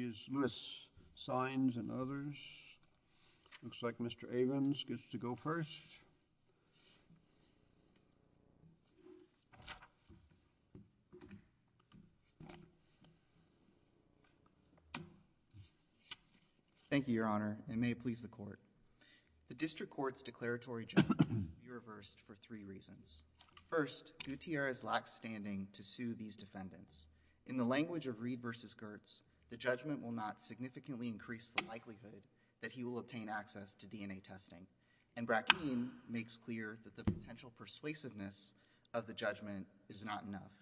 and others. Looks like Mr. Avins gets to go first. Thank you, Your Honor, and may it please the Court. The District Court's declaratory judgment can be reversed for three reasons. First, Gutierrez lacks standing to sue these defendants. In the language of Reed v. Gertz, the judgment will not significantly increase the likelihood that he will obtain access to DNA testing, and Brackeen makes clear that the potential persuasiveness of the judgment is not enough.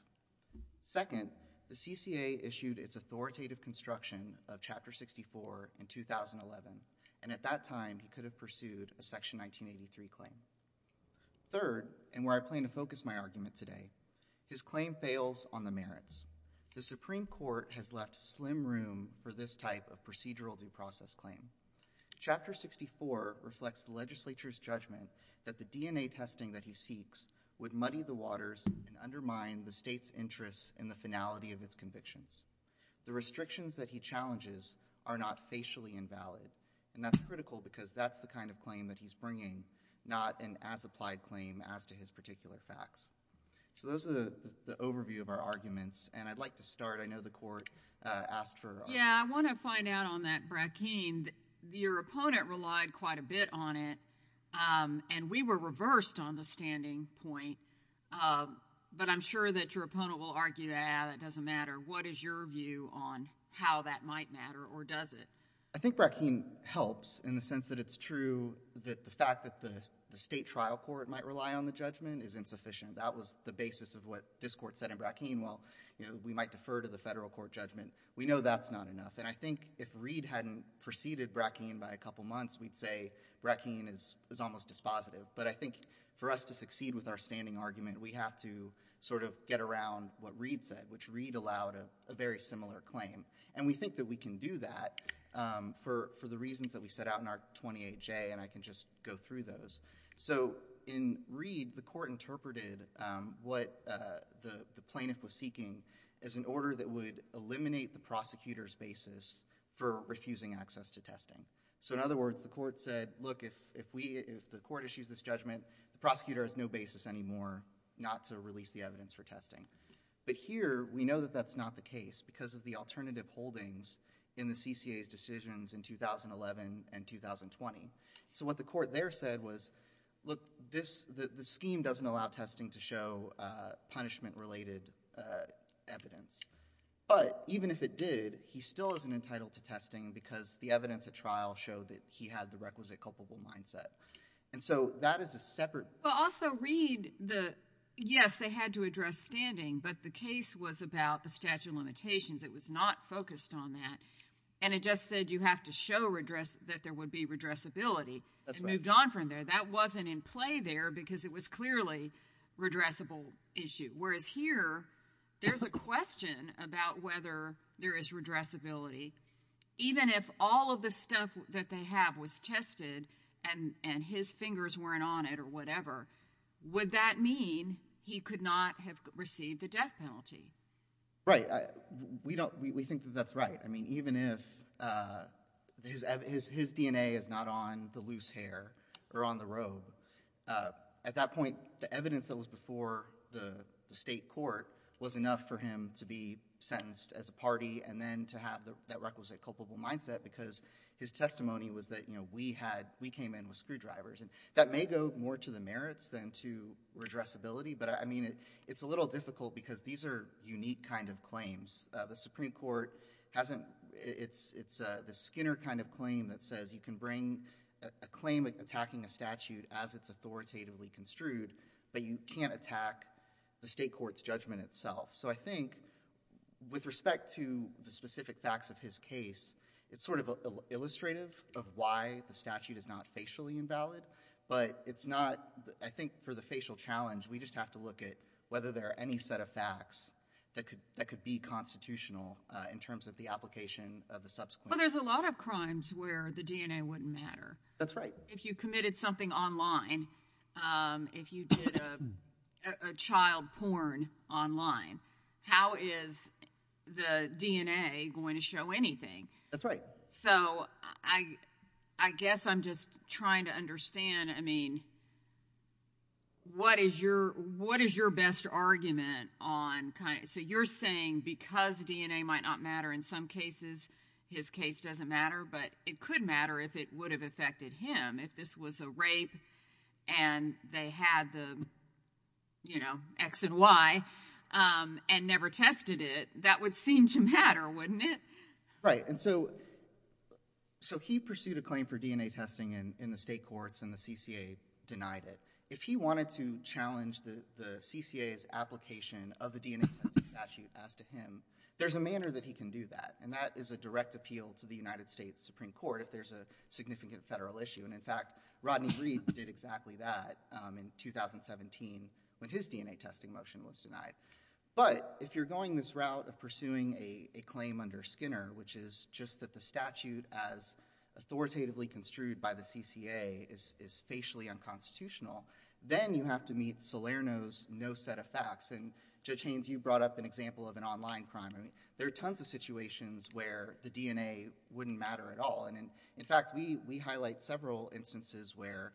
Second, the CCA issued its authoritative construction of Chapter 64 in 2011, and at that time, he could have pursued a Section 1983 claim. Third, and where I plan to focus my argument today, his claim fails on the merits. The Supreme Court has left slim room for this type of procedural due process claim. Chapter 64 reflects the legislature's judgment that the DNA testing that he seeks would muddy the waters and undermine the state's interest in the finality of its convictions. The restrictions that he challenges are not facially invalid, and that's critical because that's the kind of claim that he's bringing, not an as-applied claim as to his particular facts. So those are the overview of our arguments, and I'd like to start. I know the Court asked for our— Yeah, I want to find out on that, Brackeen. Your opponent relied quite a bit on it, and we were reversed on the standing point, but I'm sure that your opponent will argue, ah, that doesn't matter. What is your view on how that might matter, or does it? I think Brackeen helps in the sense that it's true that the fact that the state trial court might rely on the judgment is insufficient. That was the basis of what this Court said in Brackeen. While, you know, we might defer to the federal court judgment, we know that's not enough. And I think if Reed hadn't preceded Brackeen by a couple months, we'd say Brackeen is almost dispositive. But I think for us to succeed with our standing argument, we have to sort of get around what Reed said, which Reed allowed a very similar claim. And we think that we can do that for the reasons that we set out in our 28J, and I can just go through those. So in Reed, the Court interpreted what the plaintiff was seeking as an order that would eliminate the prosecutor's basis for refusing access to testing. So in other words, the Court said, look, if we—if the Court issues this judgment, the prosecutor has no basis anymore not to release the evidence for testing. But here, we know that that's not the case because of the alternative holdings in the CCA's decisions in 2011 and 2020. So what the Court there said was, look, this—the scheme doesn't allow testing to show punishment-related evidence. But even if it did, he still isn't entitled to testing because the evidence at trial showed that he had the requisite culpable mindset. And so that is a separate— Well, also, Reed, the—yes, they had to address standing, but the case was about the statute of limitations. It was not focused on that. And it just said you have to show redress—that there would be redressability. That's right. It moved on from there. That wasn't in play there because it was clearly a redressable issue. Whereas here, there's a question about whether there is redressability, even if all of the stuff that they have was tested and his fingers weren't on it or whatever, would that mean he could not have received the death penalty? Right. We don't—we think that that's right. I mean, even if his DNA is not on the loose hair or on the robe, at that point, the evidence that was before the state court was enough for him to be sentenced as a party and then to have that requisite culpable mindset because his testimony was that, you know, we had—we came in with screwdrivers. And that may go more to the merits than to redressability, but I mean, it's a little difficult because these are unique kind of claims. The Supreme Court hasn't—it's the Skinner kind of claim that says you can bring a claim attacking a statute as it's authoritatively construed, but you can't attack the state court's judgment itself. So I think with respect to the specific facts of his case, it's sort of illustrative of why the statute is not facially invalid, but it's not—I think for the facial challenge, we just have to look at whether there are any set of facts that could be constitutional in terms of the application of the subsequent— Well, there's a lot of crimes where the DNA wouldn't matter. That's right. If you committed something online, if you did a child porn online, how is the DNA going to show anything? That's right. So I guess I'm just trying to understand, I mean, what is your—what is your best argument on kind of—so you're saying because DNA might not matter in some cases, his case doesn't matter, but it could matter if it would have affected him if this was a rape and they had the, you know, X and Y and never tested it, that would seem to matter, wouldn't it? Right. And so he pursued a claim for DNA testing in the state courts and the CCA denied it. If he wanted to challenge the CCA's application of the DNA testing statute as to him, there's a manner that he can do that, and that is a direct appeal to the United States Supreme Court if there's a significant federal issue, and in fact, Rodney Reed did exactly that in 2017 when his DNA testing motion was denied. But if you're going this route of pursuing a claim under Skinner, which is just that the statute as authoritatively construed by the CCA is facially unconstitutional, then you have to meet Salerno's no set of facts, and Judge Haynes, you brought up an example of an online crime. I mean, there are tons of situations where the DNA wouldn't matter at all, and in fact, we highlight several instances where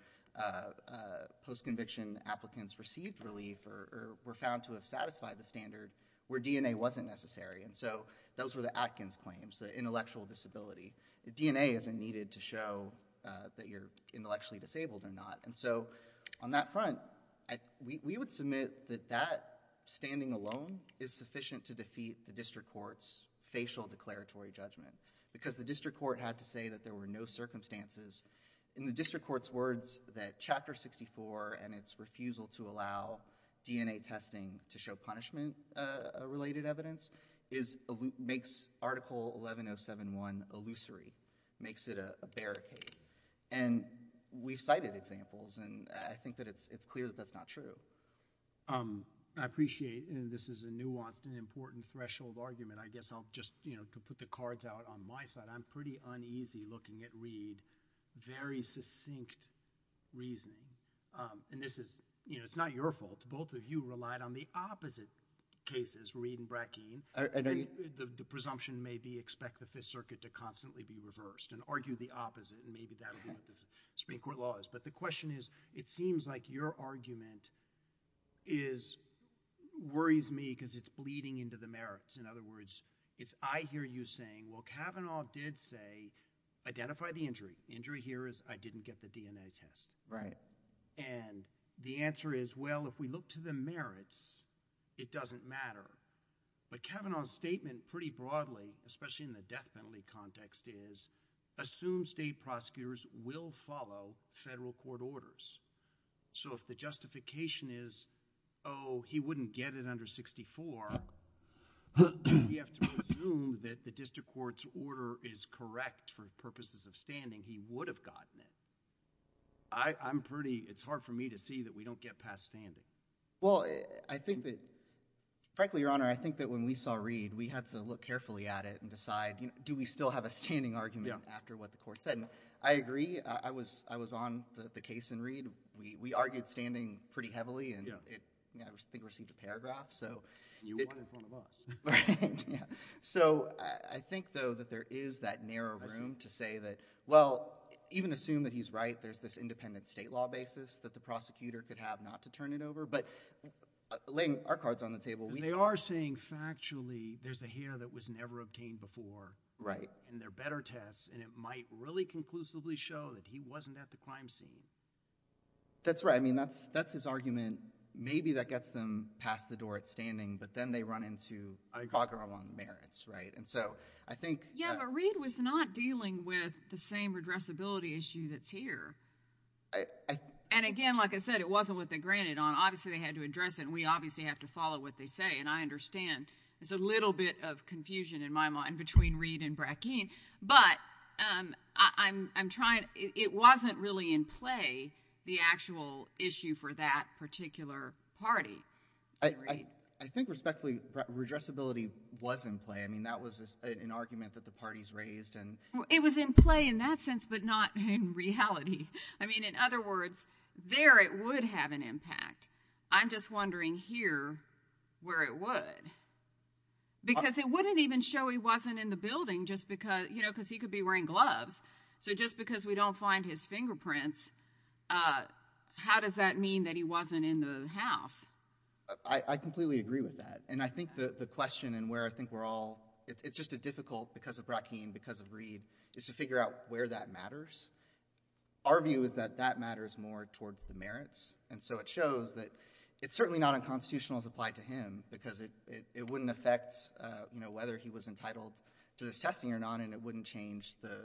post-conviction applicants received relief or were found to have satisfied the standard where DNA wasn't necessary, and so those were the Atkins claims, the intellectual disability. The DNA isn't needed to show that you're intellectually disabled or not, and so on that front, we would submit that that standing alone is sufficient to defeat the district court's facial declaratory judgment, because the district court had to say that there were no circumstances. In the district court's words that Chapter 64 and its refusal to allow DNA testing to show punishment-related evidence makes Article 11071 illusory, makes it a barricade, and we've cited examples, and I think that it's clear that that's not true. I appreciate, and this is a nuanced and important threshold argument, I guess I'll just, you know, to put the cards out on my side, I'm pretty uneasy looking at Reed, very succinct reasoning, and this is, you know, it's not your fault. Both of you relied on the opposite cases, Reed and Bratkeen, and the presumption may be expect the Fifth Circuit to constantly be reversed, and argue the opposite, and maybe that'll be what the Supreme Court law is, but the question is, it seems like your argument is, worries me, because it's bleeding into the merits, in other words, it's I hear you saying, well, Kavanaugh did say, identify the injury. Injury here is, I didn't get the DNA test, and the answer is, well, if we look to the death penalty context is, assume state prosecutors will follow federal court orders. So if the justification is, oh, he wouldn't get it under 64, we have to presume that the district court's order is correct for purposes of standing, he would have gotten it. I'm pretty, it's hard for me to see that we don't get past standing. Well, I think that, frankly, Your Honor, I think that when we saw Reed, we had to look carefully at it and decide, do we still have a standing argument after what the court said? I agree, I was on the case in Reed. We argued standing pretty heavily, and I think it received a paragraph, so. You won in front of us. So I think, though, that there is that narrow room to say that, well, even assume that he's right, there's this independent state law basis that the prosecutor could have not to turn it over, but laying our cards on the table. They are saying, factually, there's a hair that was never obtained before, and there are better tests, and it might really conclusively show that he wasn't at the crime scene. That's right. I mean, that's his argument. Maybe that gets them past the door at standing, but then they run into bogger along merits, right? And so, I think. Yeah, but Reed was not dealing with the same redressability issue that's here. And again, like I said, it wasn't what they granted on, obviously they had to address this, and we obviously have to follow what they say, and I understand there's a little bit of confusion in my mind between Reed and Brackeen, but I'm trying. It wasn't really in play, the actual issue for that particular party. I think respectfully, redressability was in play. I mean, that was an argument that the parties raised, and. It was in play in that sense, but not in reality. I mean, in other words, there it would have an impact. I'm just wondering here, where it would, because it wouldn't even show he wasn't in the building just because, you know, because he could be wearing gloves, so just because we don't find his fingerprints, how does that mean that he wasn't in the house? I completely agree with that, and I think the question, and where I think we're all, it's just a difficult, because of Brackeen, because of Reed, is to figure out where that matters. Our view is that that matters more towards the merits, and so it shows that it's certainly not unconstitutional as applied to him, because it wouldn't affect, you know, whether he was entitled to this testing or not, and it wouldn't change the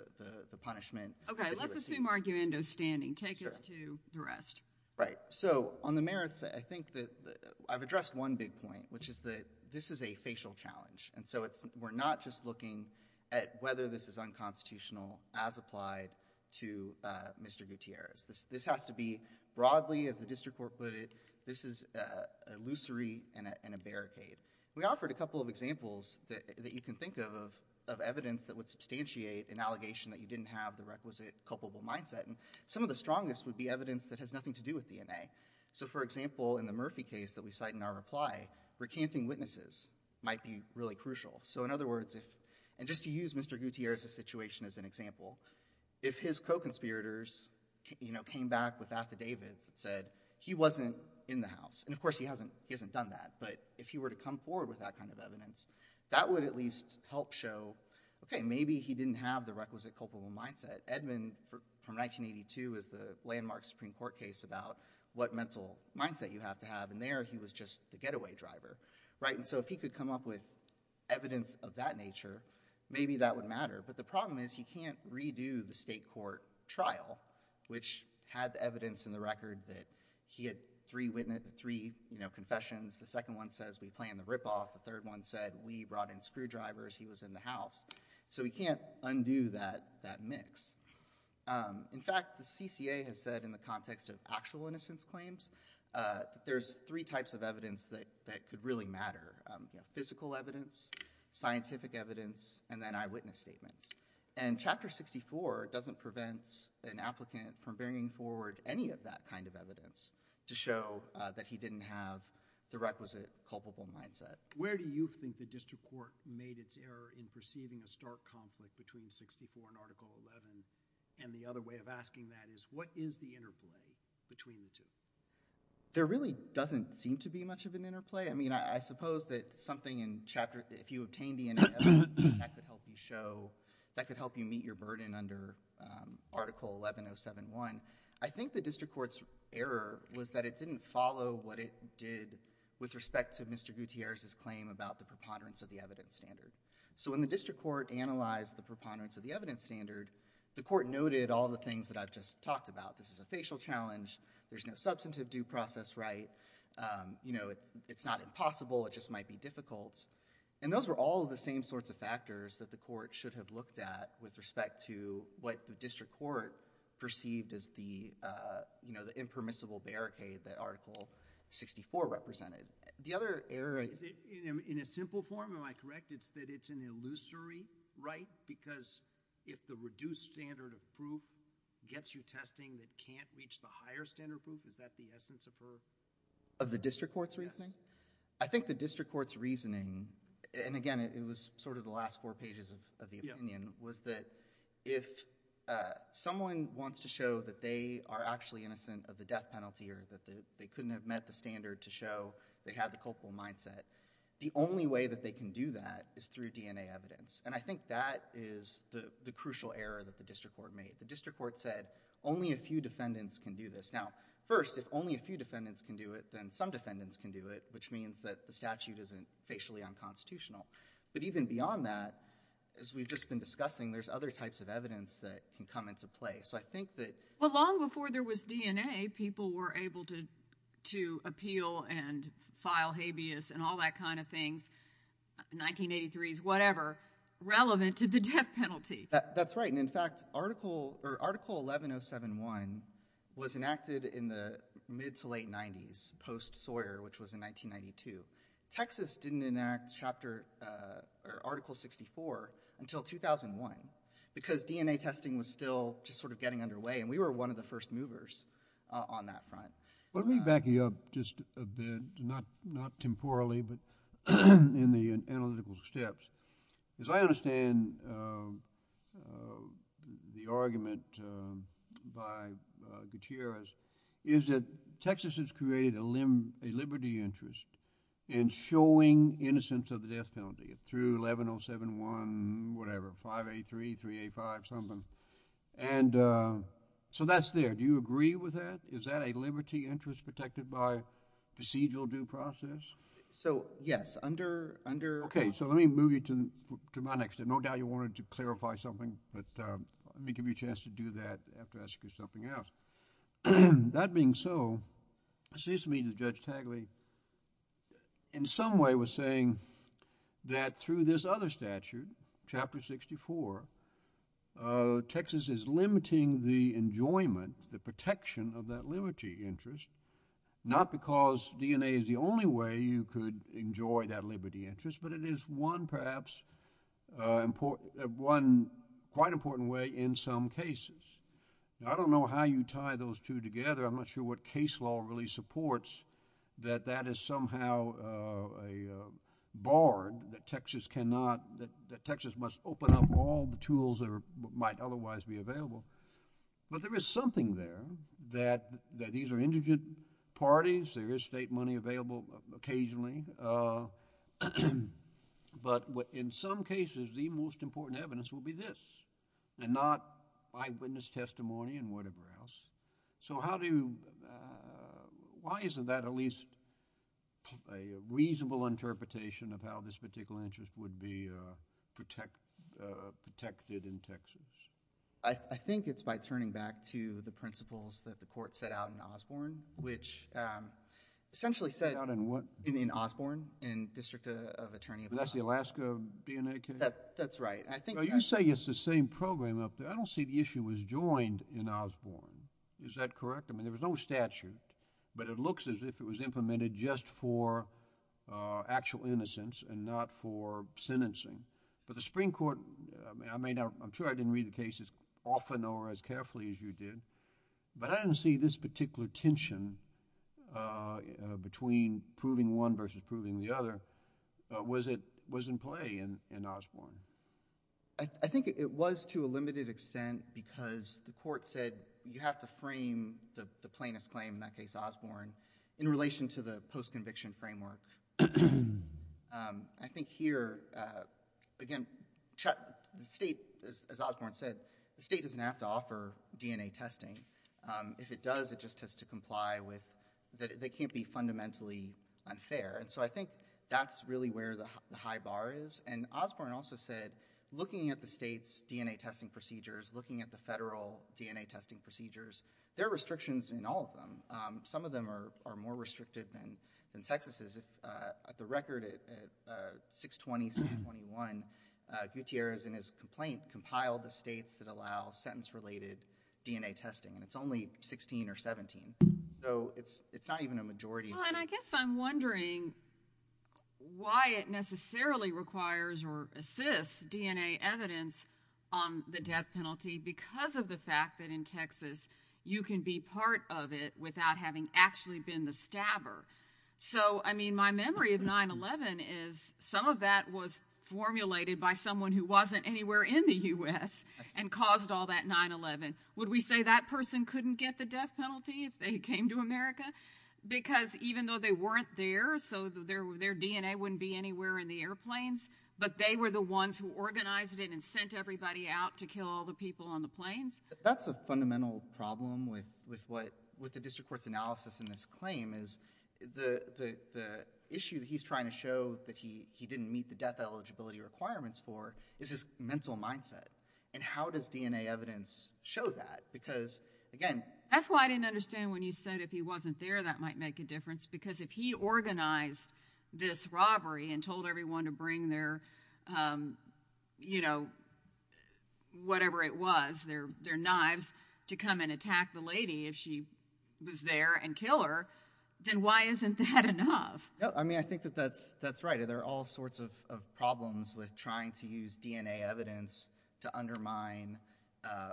punishment. Okay, let's assume Argumendo's standing. Take us to the rest. Right, so on the merits, I think that, I've addressed one big point, which is that this is a facial challenge, and so we're not just looking at whether this is unconstitutional as applied to Mr. Gutierrez. This has to be, broadly, as the district court put it, this is a luscery and a barricade. We offered a couple of examples that you can think of, of evidence that would substantiate an allegation that you didn't have the requisite culpable mindset, and some of the strongest would be evidence that has nothing to do with DNA. So for example, in the Murphy case that we cite in our reply, recanting witnesses might be really crucial. So in other words, and just to use Mr. Gutierrez's situation as an example, if his co-conspirators, you know, came back with affidavits that said he wasn't in the house, and of course he hasn't done that, but if he were to come forward with that kind of evidence, that would at least help show, okay, maybe he didn't have the requisite culpable mindset. Edmond, from 1982, is the landmark Supreme Court case about what mental mindset you have to have, and there, he was just the getaway driver, right, and so if he could come up with evidence of that nature, maybe that would matter, but the problem is he can't redo the state court trial, which had the evidence in the record that he had three confessions, the second one says we planned the ripoff, the third one said we brought in screwdrivers, he was in the house. So he can't undo that mix. In fact, the CCA has said in the context of actual innocence claims, there's three types of evidence that could really matter, you know, physical evidence, scientific evidence, and then eyewitness statements, and Chapter 64 doesn't prevent an applicant from bringing forward any of that kind of evidence to show that he didn't have the requisite culpable mindset. Where do you think the district court made its error in perceiving a stark conflict between 64 and Article 11, and the other way of asking that is, what is the interplay between the two? There really doesn't seem to be much of an interplay, I mean, I suppose that something in Chapter, if you obtained the evidence, that could help you show, that could help you meet your burden under Article 11071. I think the district court's error was that it didn't follow what it did with respect to Mr. Gutierrez's claim about the preponderance of the evidence standard. So when the district court analyzed the preponderance of the evidence standard, the court noted all the things that I've just talked about. This is a facial challenge, there's no substantive due process right, you know, it's not impossible, it just might be difficult, and those were all the same sorts of factors that the court should have looked at with respect to what the district court perceived as the, you know, the impermissible barricade that Article 64 represented. The other error... In a simple form, am I correct, it's that it's an illusory right because if the reduced standard of proof gets you testing that can't reach the higher standard of proof, is that the essence of her... Of the district court's reasoning? Yes. I think the district court's reasoning, and again, it was sort of the last four pages of the opinion, was that if someone wants to show that they are actually innocent of the death penalty or that they couldn't have met the standard to show they had the culpable mindset, the only way that they can do that is through DNA evidence. And I think that is the crucial error that the district court made. The district court said only a few defendants can do this. Now, first, if only a few defendants can do it, then some defendants can do it, which means that the statute isn't facially unconstitutional, but even beyond that, as we've just been discussing, there's other types of evidence that can come into play. So I think that... Well, long before there was DNA, people were able to appeal and file habeas and all that kind of things, 1983s, whatever, relevant to the death penalty. That's right. And in fact, Article 11071 was enacted in the mid to late 90s, post-Sawyer, which was in 1992. Texas didn't enact Article 64 until 2001, because DNA testing was still just sort of getting underway, and we were one of the first movers on that front. Let me back you up just a bit, not temporally, but in the analytical steps. As I understand the argument by Gutierrez, is that Texas has created a liberty interest in showing innocence of the death penalty through 11071, whatever, 583, 385, something. And so that's there. Do you agree with that? Is that a liberty interest protected by procedural due process? So yes. Under... Okay. So let me move you to my next. There's no doubt you wanted to clarify something, but let me give you a chance to do that after I ask you something else. That being so, it seems to me that Judge Tagli, in some way, was saying that through this other statute, Chapter 64, Texas is limiting the enjoyment, the protection of that liberty interest, not because DNA is the only way you could enjoy that liberty interest, but it is one, perhaps, one quite important way in some cases. I don't know how you tie those two together. I'm not sure what case law really supports that that is somehow barred, that Texas must open up all the tools that might otherwise be available. But there is something there, that these are indigent parties, there is state money available occasionally, but in some cases, the most important evidence will be this, and not eyewitness testimony and whatever else. So how do you... why isn't that at least a reasonable interpretation of how this particular interest would be protected in Texas? I think it's by turning back to the principles that the Court set out in Osborne, which essentially set... Set out in what? In Osborne, in District of Attorney of Alaska. That's the Alaska BNA case? That's right. I think... Well, you say it's the same program up there. I don't see the issue was joined in Osborne. Is that correct? I mean, there was no statute, but it looks as if it was implemented just for actual innocence and not for sentencing, but the Supreme Court... I mean, I'm sure I didn't read the cases often or as carefully as you did, but I didn't see this particular tension between proving one versus proving the other was in play in Osborne. I think it was to a limited extent because the Court said you have to frame the plaintiff's claim, in that case Osborne, in relation to the post-conviction framework. I think here, again, the state, as Osborne said, the state doesn't have to offer DNA testing. If it does, it just has to comply with... they can't be fundamentally unfair, and so I think that's really where the high bar is, and Osborne also said looking at the state's DNA testing procedures, looking at the federal DNA testing procedures, there are restrictions in all of them. Some of them are more restrictive than Texas's. At the record, at 620, 621, Gutierrez, in his complaint, compiled the states that allow sentence-related DNA testing, and it's only 16 or 17, so it's not even a majority... Why it necessarily requires or assists DNA evidence on the death penalty, because of the fact that in Texas you can be part of it without having actually been the stabber. So I mean, my memory of 9-11 is some of that was formulated by someone who wasn't anywhere in the U.S. and caused all that 9-11. Would we say that person couldn't get the death penalty if they came to America? Because even though they weren't there, so their DNA wouldn't be anywhere in the airplanes, but they were the ones who organized it and sent everybody out to kill all the people on the planes? That's a fundamental problem with the district court's analysis in this claim is the issue that he's trying to show that he didn't meet the death eligibility requirements for is his mental mindset, and how does DNA evidence show that? Because again... That's why I didn't understand when you said if he wasn't there that might make a difference, because if he organized this robbery and told everyone to bring their, you know, whatever it was, their knives, to come and attack the lady if she was there and kill her, then why isn't that enough? Yeah, I mean, I think that that's right. There are all sorts of problems with trying to use DNA evidence to undermine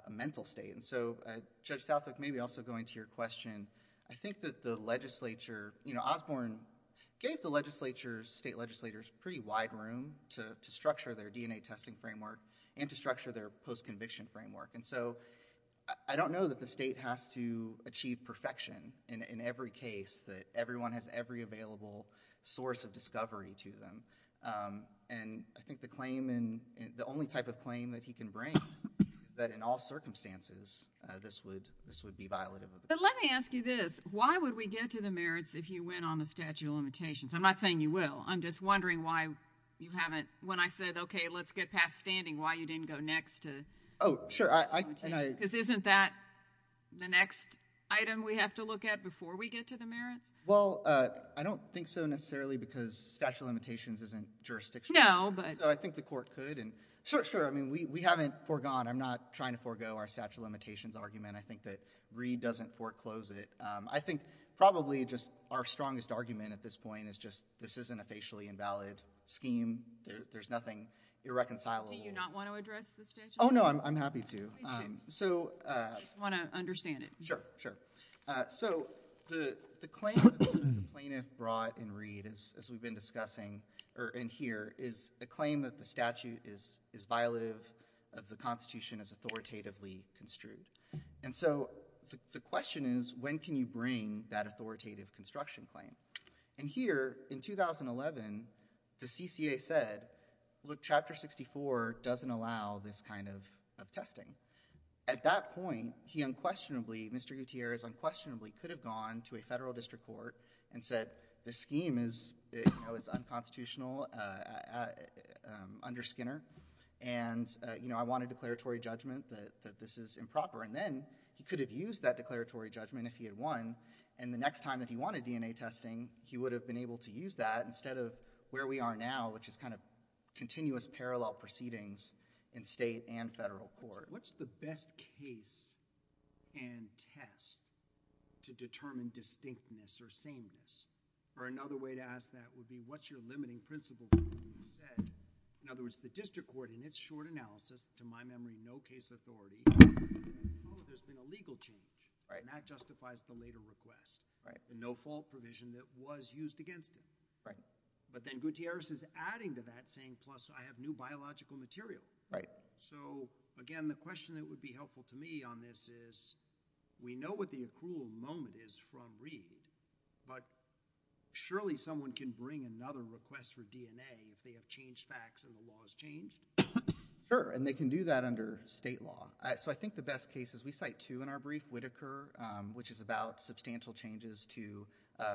a mental state. And so, Judge Southwick, maybe also going to your question, I think that the legislature, you know, Osborne gave the legislature, state legislators, pretty wide room to structure their DNA testing framework and to structure their post-conviction framework. And so, I don't know that the state has to achieve perfection in every case, that everyone has every available source of discovery to them, and I think the claim, the only type of claim that he can bring, that in all circumstances, this would be violative of the... But let me ask you this. Why would we get to the merits if you went on the statute of limitations? I'm not saying you will. I'm just wondering why you haven't... when I said, okay, let's get past standing, why you didn't go next to... Oh, sure. And I... Because isn't that the next item we have to look at before we get to the merits? Well, I don't think so, necessarily, because statute of limitations isn't jurisdiction. No, but... So, I think the court could. Sure, sure. I mean, we haven't foregone. I'm not trying to forego our statute of limitations argument. I think that Reed doesn't foreclose it. I think probably just our strongest argument at this point is just this isn't a facially invalid scheme. There's nothing irreconcilable. Do you not want to address the statute of limitations? Oh, no. I'm happy to. Please do. So... I just want to understand it. Sure, sure. So, the claim that the plaintiff brought in Reed, as we've been discussing, or in here, is a claim that the statute is violative of the Constitution as authoritatively construed. And so, the question is, when can you bring that authoritative construction claim? And here, in 2011, the CCA said, look, Chapter 64 doesn't allow this kind of testing. At that point, he unquestionably, Mr. Gutierrez unquestionably could have gone to a federal district court and said, this scheme is unconstitutional under Skinner, and I want a declaratory judgment that this is improper. And then, he could have used that declaratory judgment if he had won, and the next time that he wanted DNA testing, he would have been able to use that instead of where we are now, which is kind of continuous parallel proceedings in state and federal court. What's the best case and test to determine distinctness or sameness? Or, another way to ask that would be, what's your limiting principle that you've said? In other words, the district court, in its short analysis, to my memory, no case authority. Oh, there's been a legal change, and that justifies the later request. Right. The no fault provision that was used against him. Right. But then, Gutierrez is adding to that, saying, plus, I have new biological material. Right. So, again, the question that would be helpful to me on this is, we know what the accrual moment is from Reed, but surely someone can bring another request for DNA if they have changed facts and the law has changed? Sure, and they can do that under state law. So, I think the best case is, we cite two in our brief, Whitaker, which is about substantial changes to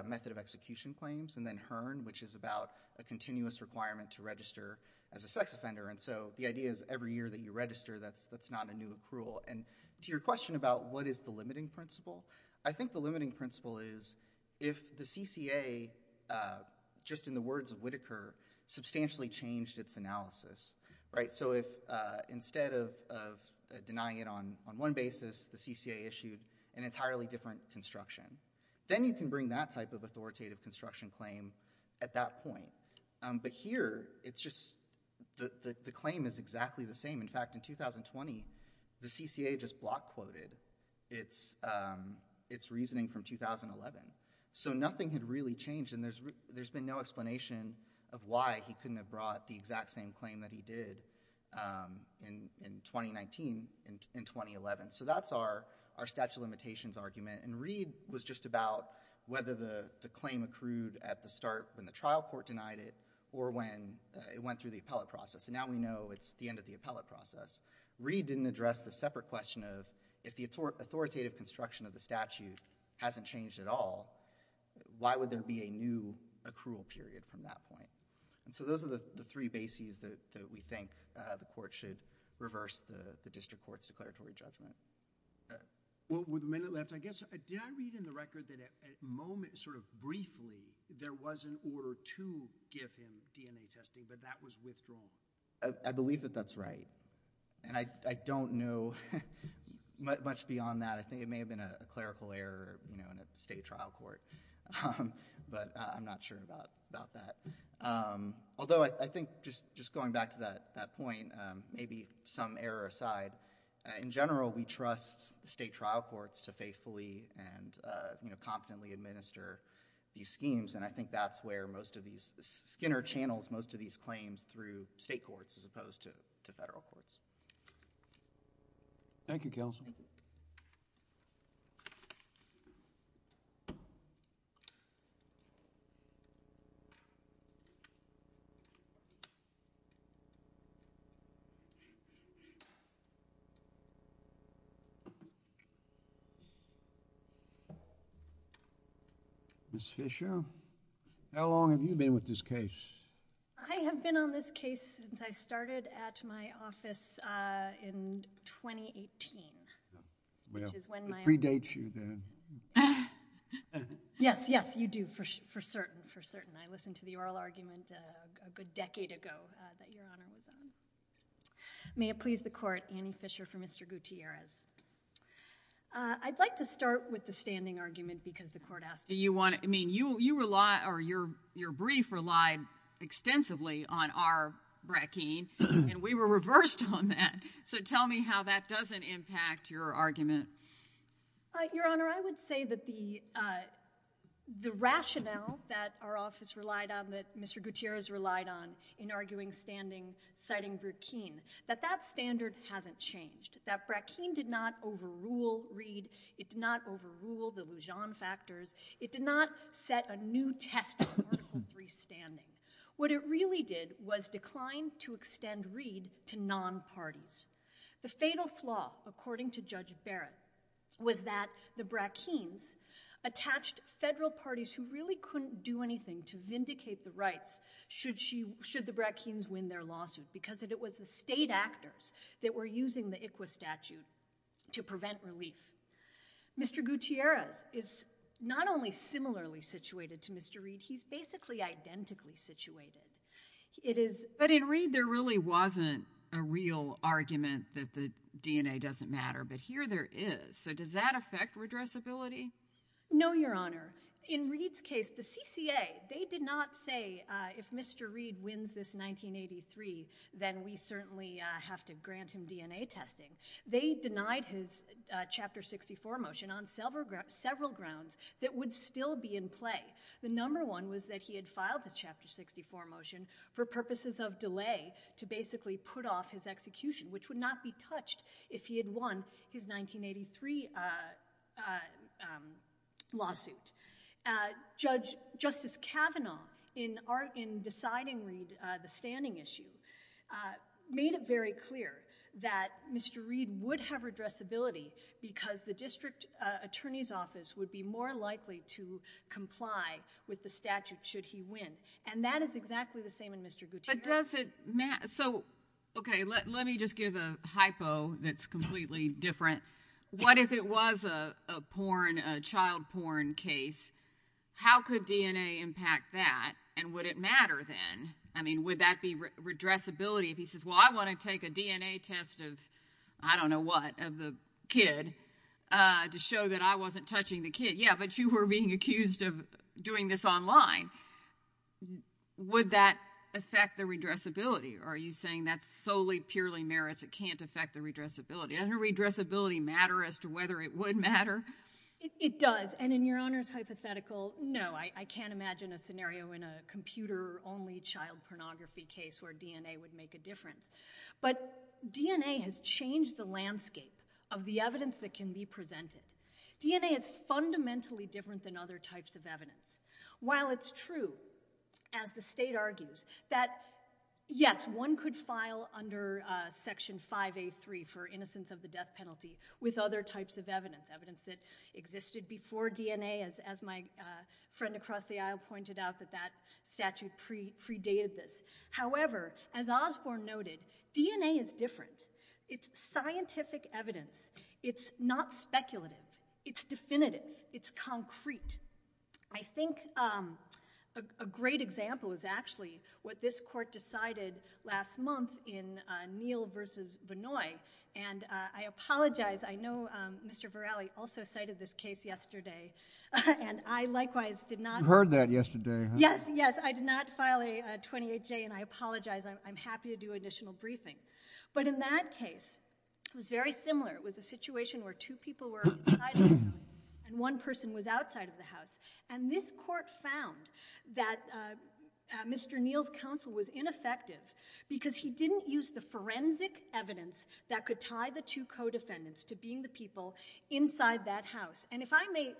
method of execution claims, and then Hearn, which is about a continuous requirement to register as a sex offender. And so, the idea is, every year that you register, that's not a new accrual. And to your question about what is the limiting principle, I think the limiting principle is, if the CCA, just in the words of Whitaker, substantially changed its analysis. Right. So, if instead of denying it on one basis, the CCA issued an entirely different construction, then you can bring that type of authoritative construction claim at that point. But here, it's just, the claim is exactly the same. In fact, in 2020, the CCA just block quoted its reasoning from 2011. So, nothing had really changed, and there's been no explanation of why he couldn't have brought the exact same claim that he did in 2019 and 2011. So, that's our statute of limitations argument, and Reed was just about whether the claim accrued at the start when the trial court denied it, or when it went through the appellate process. And now we know it's the end of the appellate process. Reed didn't address the separate question of, if the authoritative construction of the statute hasn't changed at all, why would there be a new accrual period from that point? And so, those are the three bases that we think the court should reverse the district court's declaratory judgment. Well, with a minute left, I guess, did I read in the record that at moment, sort of briefly, there was an order to give him DNA testing, but that was withdrawn? I believe that that's right, and I don't know much beyond that. I think it may have been a clerical error, you know, in a state trial court, but I'm not sure about that. Although, I think, just going back to that point, maybe some error aside, in general, we trust state trial courts to faithfully and competently administer these schemes, and I think that's where most of these... Skinner channels most of these claims through state courts as opposed to federal courts. Thank you, Counselor. Ms. Fisher, how long have you been with this case? I have been on this case since I started at my office in 2018, which is when my... Well, it predates you then. Yes, yes, you do, for certain, for certain. I listened to the oral argument a good decade ago that Your Honor was on. May it please the Court, Annie Fisher for Mr. Gutierrez. I'd like to start with the standing argument, because the Court asked... Do you want to... I mean, you rely, or your brief relied extensively on our brackeen, and we were reversed on that, so tell me how that doesn't impact your argument. Your Honor, I would say that the rationale that our office relied on, that Mr. Gutierrez relied on in arguing standing, citing brackeen, that that standard hasn't changed. That brackeen did not overrule Reed. It did not overrule the Lujan factors. It did not set a new test for Article III standing. What it really did was decline to extend Reed to non-parties. The fatal flaw, according to Judge Barrett, was that the brackeens attached federal parties who really couldn't do anything to vindicate the rights should the brackeens win their lawsuit, because it was the state actors that were using the ICWA statute to prevent relief. Mr. Gutierrez is not only similarly situated to Mr. Reed, he's basically identically situated. But in Reed, there really wasn't a real argument that the DNA doesn't matter, but here there is, so does that affect redressability? No, Your Honor. In Reed's case, the CCA, they did not say, if Mr. Reed wins this 1983, then we certainly have to grant him DNA testing. They denied his Chapter 64 motion on several grounds that would still be in play. The number one was that he had filed his Chapter 64 motion for purposes of delay to basically put off his execution, which would not be touched if he had won his 1983 lawsuit. Justice Kavanaugh, in deciding Reed, the standing issue, made it very clear that Mr. Reed would have redressability because the district attorney's office would be more likely to comply with the statute should he win. And that is exactly the same in Mr. Gutierrez. But does it matter? So, okay, let me just give a hypo that's completely different. What if it was a porn, a child porn case? How could DNA impact that, and would it matter then? I mean, would that be redressability if he says, well, I want to take a DNA test of, I don't know what, of the kid to show that I wasn't touching the kid. Yeah, but you were being accused of doing this online. Would that affect the redressability? Are you saying that solely purely merits it can't affect the redressability? Doesn't redressability matter as to whether it would matter? It does. And in Your Honor's hypothetical, no. I can't imagine a scenario in a computer-only child pornography case where DNA would make a difference. But DNA has changed the landscape of the evidence that can be presented. DNA is fundamentally different than other types of evidence. While it's true, as the state argues, that yes, one could file under Section 5A3 for innocence of the death penalty with other types of evidence, evidence that existed before DNA, as my friend across the aisle pointed out, that that statute predated this. However, as Osborne noted, DNA is different. It's scientific evidence. It's not speculative. It's definitive. It's concrete. I think a great example is actually what this court decided last month in Neal v. Vinoy. And I apologize. I know Mr. Verali also cited this case yesterday. And I likewise did not. You heard that yesterday, huh? Yes. Yes. I did not file a 28-J, and I apologize. I'm happy to do additional briefing. But in that case, it was very similar. It was a situation where two people were inside the house, and one person was outside of the house. And this court found that Mr. Neal's counsel was ineffective because he didn't use the forensic evidence that could tie the two co-defendants to being the people inside that house. And if I may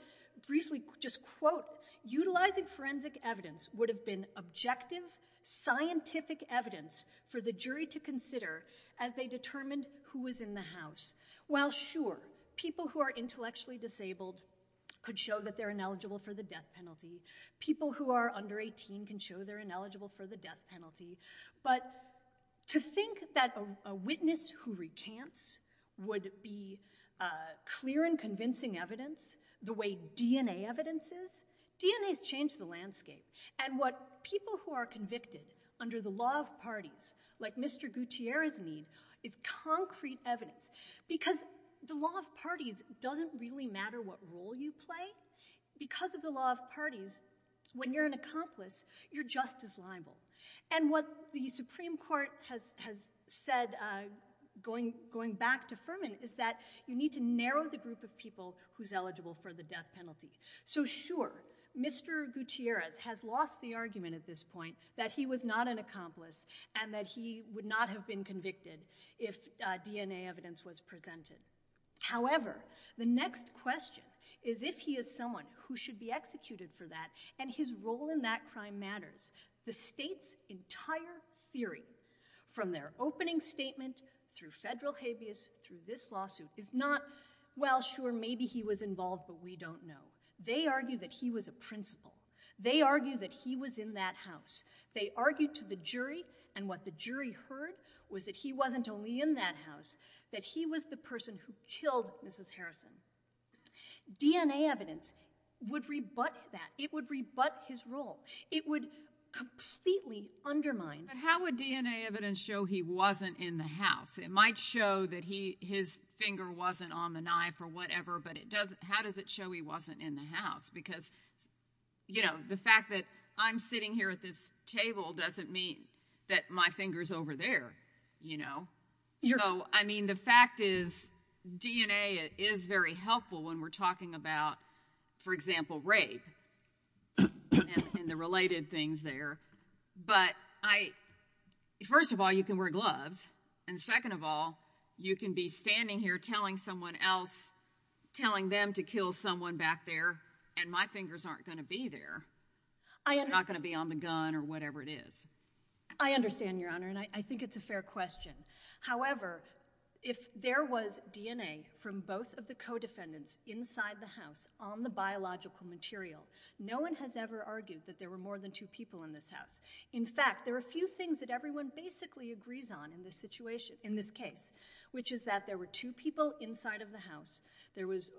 briefly just quote, utilizing forensic evidence would have been objective scientific evidence for the jury to consider as they determined who was in the house. While sure, people who are intellectually disabled could show that they're ineligible for the death penalty, people who are under 18 can show they're ineligible for the death penalty, but to think that a witness who recants would be clear and convincing evidence the way DNA evidence is. DNA has changed the landscape. And what people who are convicted under the law of parties, like Mr. Gutierrez and me, is concrete evidence. Because the law of parties doesn't really matter what role you play. Because of the law of parties, when you're an accomplice, you're just as liable. And what the Supreme Court has said, going back to Furman, is that you need to narrow the group of people who's eligible for the death penalty. So sure, Mr. Gutierrez has lost the argument at this point that he was not an accomplice and that he would not have been convicted if DNA evidence was presented. However, the next question is if he is someone who should be executed for that and his role in that crime matters. The state's entire theory, from their opening statement, through federal habeas, through this lawsuit, is not, well, sure, maybe he was involved, but we don't know. They argue that he was a principal. They argue that he was in that house. They argue to the jury, and what the jury heard was that he wasn't only in that house, that he was the person who killed Mrs. Harrison. DNA evidence would rebut that. It would rebut his role. It would completely undermine. But how would DNA evidence show he wasn't in the house? It might show that his finger wasn't on the knife or whatever, but how does it show he wasn't in the house? Because, you know, the fact that I'm sitting here at this table doesn't mean that my finger's over there, you know. So, I mean, the fact is DNA is very helpful when we're talking about, for example, rape and the related things there. But first of all, you can wear gloves, and second of all, you can be standing here telling someone else, telling them to kill someone back there, and my fingers aren't going to be there. They're not going to be on the gun or whatever it is. I understand, Your Honor, and I think it's a fair question. However, if there was DNA from both of the co-defendants inside the house on the biological material, no one has ever argued that there were more than two people in this house. In fact, there are a few things that everyone basically agrees on in this case, which is that there were two people inside of the house, there was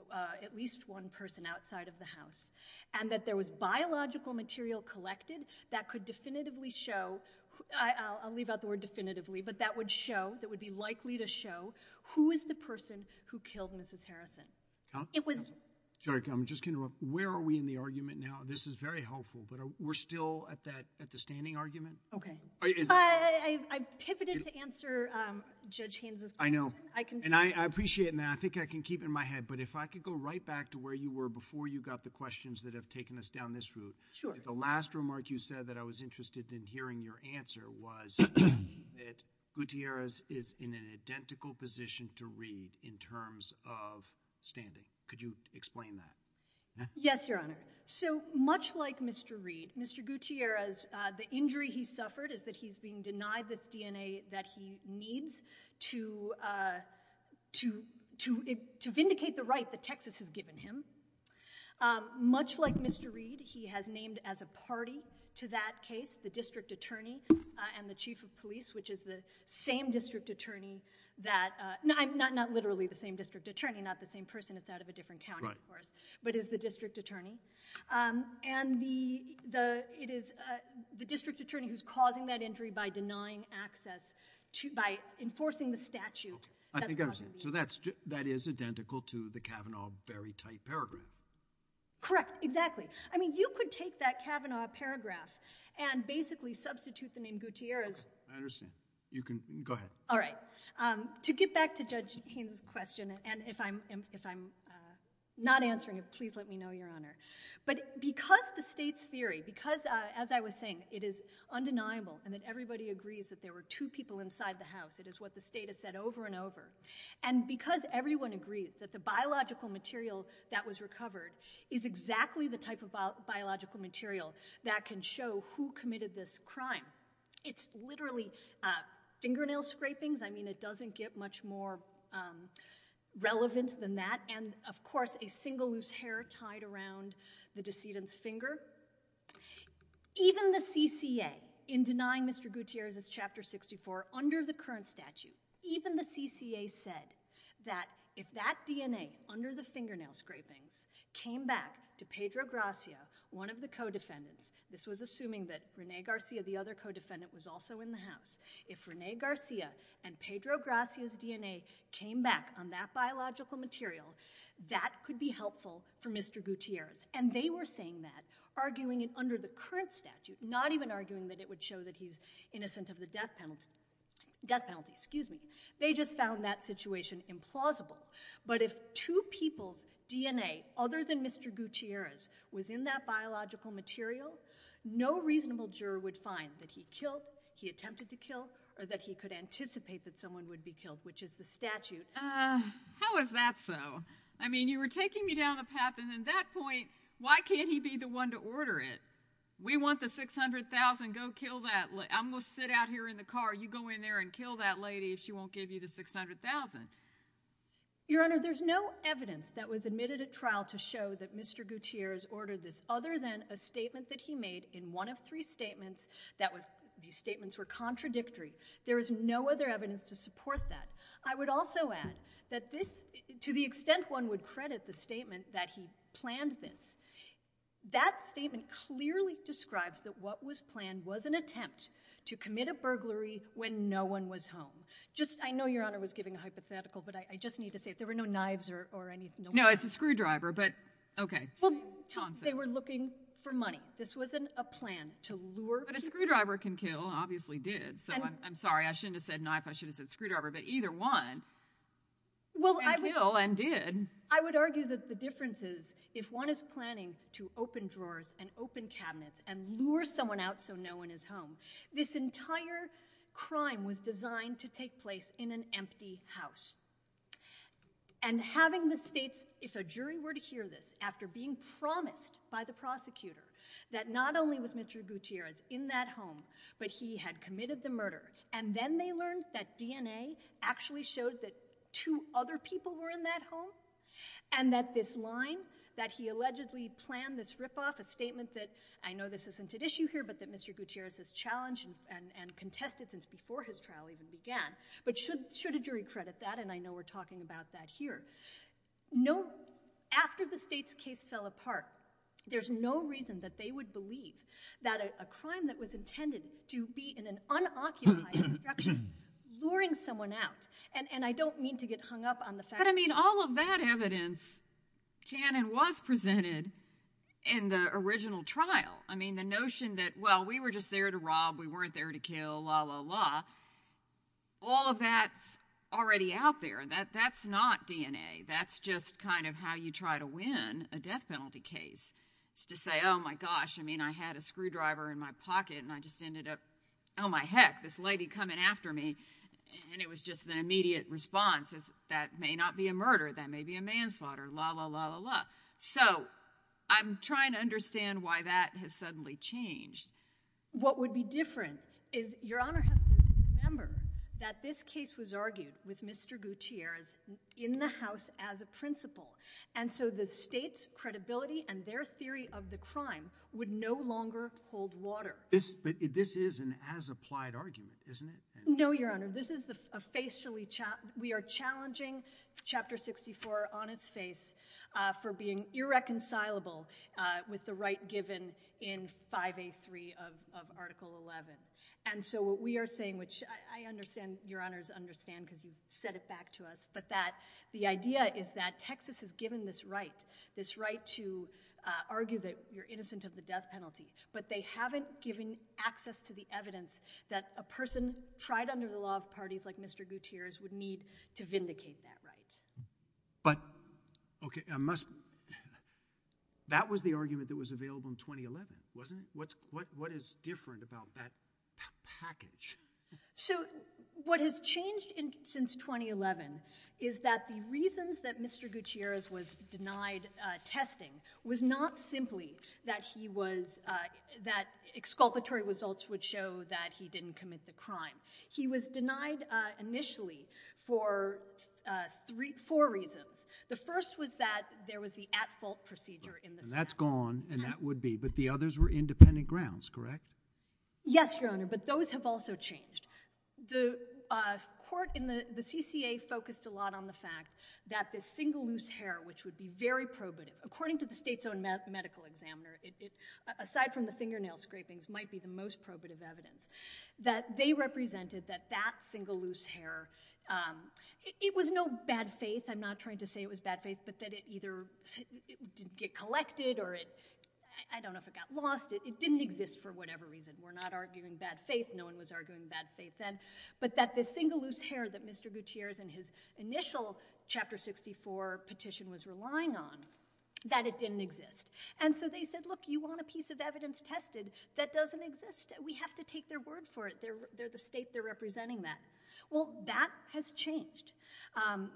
at least one person outside of the house, and that there was biological material collected that could definitively show— I'll leave out the word definitively, but that would show, that would be likely to show who is the person who killed Mrs. Harrison. Sorry, I'm just going to interrupt. Where are we in the argument now? This is very helpful, but we're still at the standing argument? Okay. I pivoted to answer Judge Haynes' question. I know, and I appreciate that. I think I can keep it in my head, but if I could go right back to where you were before you got the questions that have taken us down this route. Sure. The last remark you said that I was interested in hearing your answer was that Gutierrez is in an identical position to Reed in terms of standing. Could you explain that? Yes, Your Honor. So, much like Mr. Reed, Mr. Gutierrez, the injury he suffered is that he's being denied this DNA that he needs to vindicate the right that Texas has given him. Much like Mr. Reed, he has named as a party to that case the district attorney and the chief of police, which is the same district attorney that— Not literally the same district attorney, not the same person. It's out of a different county, of course, but is the district attorney. It is the district attorney who's causing that injury by denying access, by enforcing the statute. I think I understand. That is identical to the Kavanaugh very tight paragraph. Correct. Exactly. I mean, you could take that Kavanaugh paragraph and basically substitute the name Gutierrez. Okay. I understand. Go ahead. All right. To get back to Judge Haynes' question, and if I'm not answering it, please let me know, Your Honor. But because the state's theory, because, as I was saying, it is undeniable and that everybody agrees that there were two people inside the house, it is what the state has said over and over, and because everyone agrees that the biological material that was recovered is exactly the type of biological material that can show who committed this crime, it's literally fingernail scrapings. I mean, it doesn't get much more relevant than that. And, of course, a single loose hair tied around the decedent's finger. Even the CCA, in denying Mr. Gutierrez's Chapter 64, under the current statute, even the CCA said that if that DNA, under the fingernail scrapings, came back to Pedro Gracia, one of the co-defendants, this was assuming that Renee Garcia, the other co-defendant, was also in the house, if Renee Garcia and Pedro Gracia's DNA came back on that biological material, that could be helpful for Mr. Gutierrez. And they were saying that, arguing it under the current statute, not even arguing that it would show that he's innocent of the death penalty. They just found that situation implausible. But if two people's DNA, other than Mr. Gutierrez, was in that biological material, no reasonable juror would find that he killed, he attempted to kill, or that he could anticipate that someone would be killed, which is the statute. How is that so? I mean, you were taking me down the path, and at that point, why can't he be the one to order it? We want the $600,000. Go kill that lady. I'm going to sit out here in the car. You go in there and kill that lady if she won't give you the $600,000. Your Honor, there's no evidence that was admitted at trial to show that Mr. Gutierrez ordered this, other than a statement that he made in one of three statements that was, these statements were contradictory. There is no other evidence to support that. I would also add that this, to the extent one would credit the statement that he planned this, that statement clearly describes that what was planned was an attempt to commit a burglary when no one was home. Just, I know Your Honor was giving a hypothetical, but I just need to say, if there were no knives or any... No, it's a screwdriver, but, okay. Well, they were looking for money. This wasn't a plan to lure people... But a screwdriver can kill, obviously did, so I'm sorry, I shouldn't have said knife, I should have said screwdriver, but either one can kill and did. I would argue that the difference is, if one is planning to open drawers and open cabinets and lure someone out so no one is home, this entire crime was designed to take place in an empty house. And having the states, if a jury were to hear this, after being promised by the prosecutor that not only was Mr Gutierrez in that home, but he had committed the murder, and then they learned that DNA actually showed that two other people were in that home, and that this line, that he allegedly planned this rip-off, a statement that, I know this isn't at issue here, but that Mr Gutierrez has challenged and contested since before his trial even began, but should a jury credit that? And I know we're talking about that here. After the states' case fell apart, there's no reason that they would believe that a crime that was intended to be in an unoccupied structure, luring someone out, and I don't mean to get hung up on the fact... But, I mean, all of that evidence can and was presented in the original trial. I mean, the notion that, well, we were just there to rob, we weren't there to kill, la-la-la, all of that's already out there. That's not DNA. That's just kind of how you try to win a death penalty case, is to say, oh, my gosh, I mean, I had a screwdriver in my pocket and I just ended up, oh, my heck, this lady coming after me, and it was just the immediate response is, that may not be a murder, that may be a manslaughter, la-la-la-la-la. So, I'm trying to understand why that has suddenly changed. What would be different is, Your Honour has to remember that this case was argued with Mr Gutierrez in the House as a principle, and so the state's credibility and their theory of the crime would no longer hold water. But this is an as-applied argument, isn't it? No, Your Honour, this is a facially... We are challenging Chapter 64 on its face for being irreconcilable with the right given in 5A3 of Article 11. And so what we are saying, which I understand Your Honour's understand because you've said it back to us, but that the idea is that Texas has given this right, this right to argue that you're innocent of the death penalty, but they haven't given access to the evidence that a person tried under the law of parties like Mr Gutierrez would need to vindicate that right. But... OK, I must... That was the argument that was available in 2011, wasn't it? What is different about that package? So, what has changed since 2011 is that the reasons that Mr Gutierrez was denied testing was not simply that he was... that exculpatory results would show that he didn't commit the crime. He was denied initially for four reasons. The first was that there was the at-fault procedure in the statute. And that's gone, and that would be, but the others were independent grounds, correct? Yes, Your Honour, but those have also changed. The court in the CCA focused a lot on the fact that this single loose hair, which would be very probative, according to the state's own medical examiner, aside from the fingernail scrapings, might be the most probative evidence, that they represented that that single loose hair... It was no bad faith. I'm not trying to say it was bad faith, but that it either didn't get collected or it... I don't know if it got lost. It didn't exist for whatever reason. We're not arguing bad faith. No-one was arguing bad faith then. But that the single loose hair that Mr Gutierrez in his initial Chapter 64 petition was relying on, that it didn't exist. And so they said, look, you want a piece of evidence tested that doesn't exist. We have to take their word for it. They're the state. They're representing that. Well, that has changed. Um,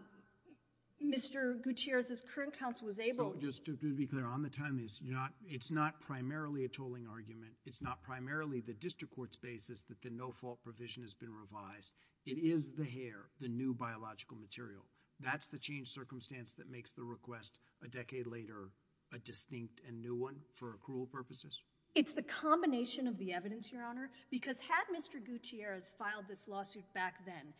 Mr Gutierrez's current counsel was able... Just to be clear, on the timeliness, it's not primarily a tolling argument. It's not primarily the district court's basis that the no-fault provision has been revised. It is the hair, the new biological material. That's the changed circumstance that makes the request a decade later a distinct and new one for accrual purposes? It's the combination of the evidence, Your Honour. Because had Mr Gutierrez filed this lawsuit back then,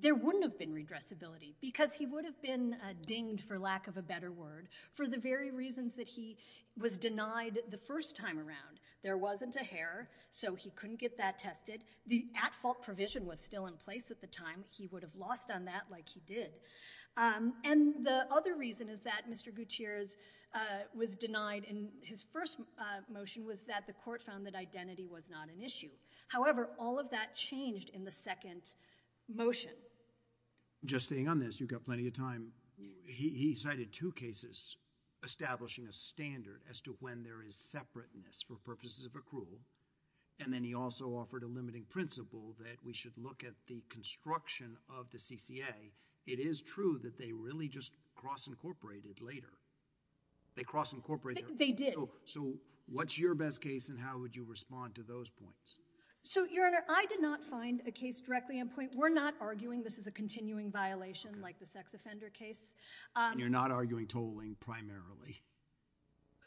there wouldn't have been redressability because he would have been dinged, for lack of a better word, for the very reasons that he was denied the first time around. There wasn't a hair, so he couldn't get that tested. The at-fault provision was still in place at the time. He would have lost on that like he did. Um, and the other reason is that Mr Gutierrez was denied in his first motion was that the court found that identity was not an issue. However, all of that changed in the second motion. Just staying on this, you've got plenty of time. He cited two cases establishing a standard as to when there is separateness for purposes of accrual, and then he also offered a limiting principle that we should look at the construction of the CCA. It is true that they really just cross-incorporated later. They cross-incorporated? They did. So what's your best case, and how would you respond to those points? So, Your Honor, I did not find a case directly in point. We're not arguing this is a continuing violation like the sex offender case. And you're not arguing tolling primarily?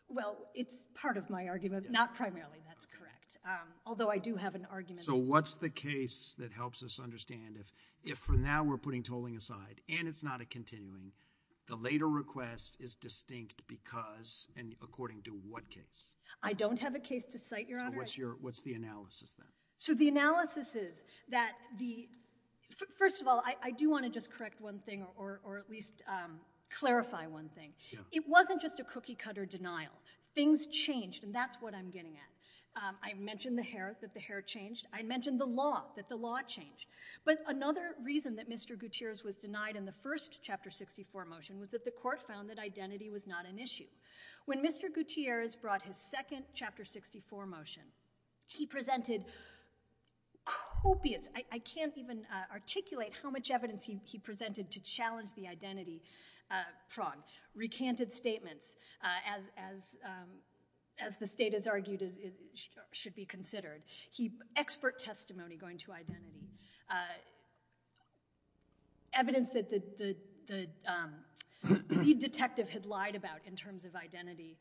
Well, it's part of my argument. Not primarily, that's correct. Although I do have an argument. So what's the case that helps us understand if for now we're putting tolling aside, and it's not a continuing, the later request is distinct because and according to what case? I don't have a case to cite, Your Honor. So what's the analysis, then? So the analysis is that the... First of all, I do want to just correct one thing or at least clarify one thing. It wasn't just a cookie-cutter denial. Things changed, and that's what I'm getting at. I mentioned the hair, that the hair changed. I mentioned the law, that the law changed. But another reason that Mr Gutierrez was denied in the first Chapter 64 motion was that the court found that identity was not an issue. When Mr Gutierrez brought his second Chapter 64 motion, he presented copious... I can't even articulate how much evidence he presented to challenge the identity prong. Recanted statements, as the state has argued should be considered. Expert testimony going to identity. Evidence that the lead detective had lied about in terms of identity.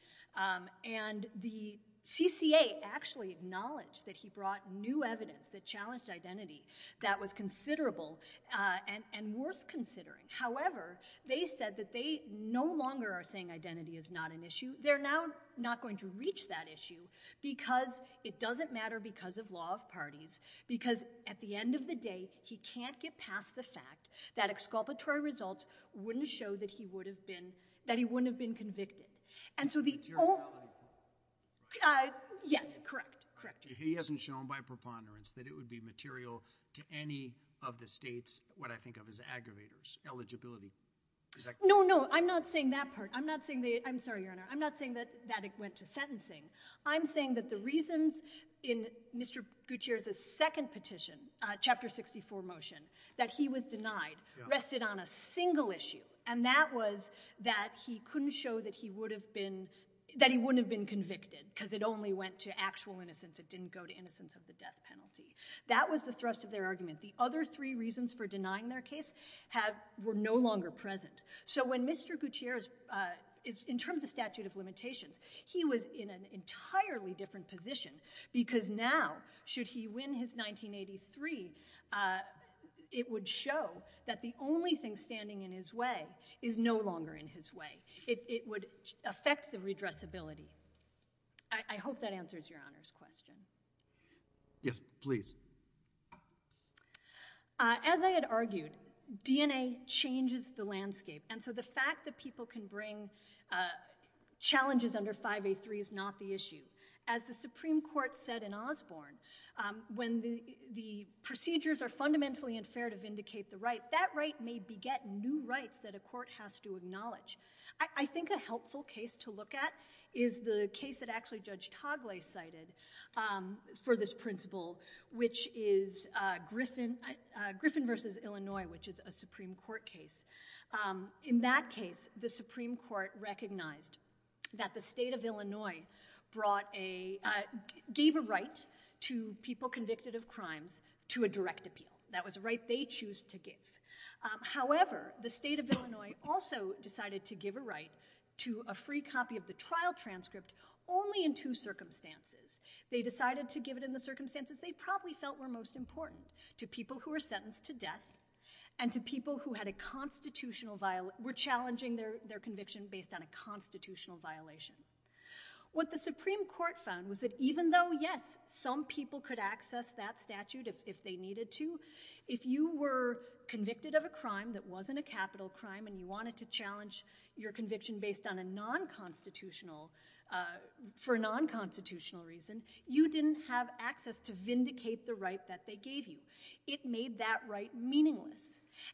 And the CCA actually acknowledged that he brought new evidence that challenged identity that was considerable and worth considering. However, they said that they no longer are saying identity is not an issue. They're now not going to reach that issue because it doesn't matter because of law of parties, because at the end of the day, he can't get past the fact that exculpatory results wouldn't show that he wouldn't have been convicted. And so the... Yes, correct, correct. He hasn't shown by preponderance that it would be material to any of the state's, what I think of as aggravators, eligibility. No, no, I'm not saying that part. I'm not saying... I'm sorry, Your Honor. I'm not saying that it went to sentencing. I'm saying that the reasons in Mr. Gutierrez's second petition, Chapter 64 motion, that he was denied rested on a single issue, and that was that he couldn't show that he wouldn't have been convicted because it only went to actual innocence. It didn't go to innocence of the death penalty. That was the thrust of their argument. The other three reasons for denying their case were no longer present. So when Mr. Gutierrez... In terms of statute of limitations, he was in an entirely different position because now, should he win his 1983, it would show that the only thing standing in his way is no longer in his way. It would affect the redressability. I hope that answers Your Honor's question. Yes, please. As I had argued, DNA changes the landscape, and so the fact that people can bring challenges under 5A3 is not the issue. As the Supreme Court said in Osborne, when the procedures are fundamentally unfair to vindicate the right, that right may beget new rights that a court has to acknowledge. I think a helpful case to look at is the case that actually Judge Togle cited for this principle, which is Griffin v. Illinois, which is a Supreme Court case. In that case, the Supreme Court recognized that the state of Illinois gave a right to people convicted of crimes to a direct appeal. That was a right they choose to give. However, the state of Illinois also decided to give a right to a free copy of the trial transcript only in two circumstances. They decided to give it in the circumstances they probably felt were most important to people who were sentenced to death and to people who were challenging their conviction based on a constitutional violation. What the Supreme Court found was that even though, yes, some people could access that statute if they needed to, if you were convicted of a crime that wasn't a capital crime and you wanted to challenge your conviction based on a non-constitutional, for a non-constitutional reason, you didn't have access to vindicate the right that they gave you. It made that right meaningless.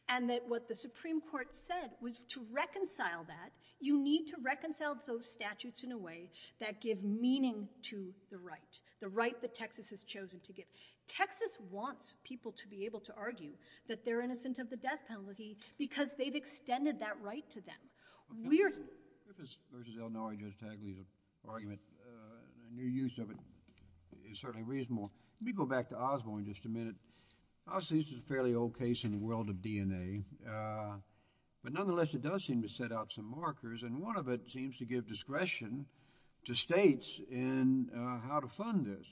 And that what the Supreme Court said was to reconcile that, you need to reconcile those statutes in a way that give meaning to the right, the right that Texas has chosen to give. Texas wants people to be able to argue that they're innocent of the death penalty because they've extended that right to them. Weird. I think this versus Illinois just actually is an argument. And your use of it is certainly reasonable. Let me go back to Osborne just a minute. Obviously, this is a fairly old case in the world of DNA. But nonetheless, it does seem to set out some markers. And one of it seems to give discretion to states in how to fund this.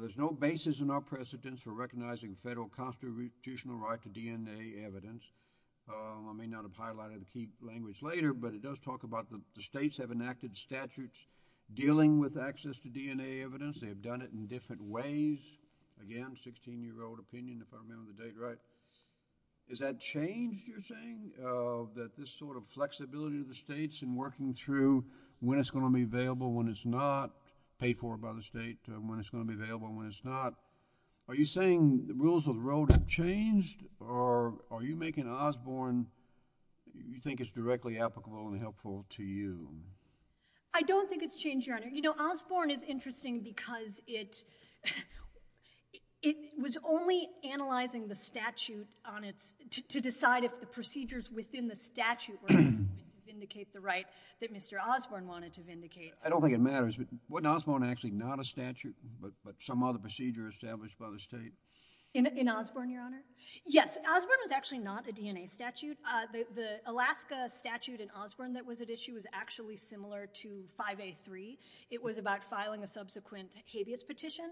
There's no basis in our precedents for recognizing federal constitutional right to DNA evidence. I may not have highlighted the key language later, but it does talk about the states have enacted statutes dealing with access to DNA evidence. They have done it in different ways. Again, 16-year-old opinion if I remember the date right. Is that changed, you're saying, that this sort of flexibility of the states in working through when it's going to be available, when it's not, paid for by the state, when it's going to be available, when it's not. Are you saying the rules of the road have changed? Or are you making Osborne, you think it's directly applicable and helpful to you? I don't think it's changed, Your Honor. You know, Osborne is interesting because it was only analyzing the statute to decide if the procedures within the statute were going to vindicate the right that Mr. Osborne wanted to vindicate. I don't think it matters, but wasn't Osborne actually not a statute, but some other procedure established by the state? In Osborne, Your Honor? Yes, Osborne was actually not a DNA statute. The Alaska statute in Osborne that was at issue was actually similar to 5A3. It was about filing a subsequent habeas petition.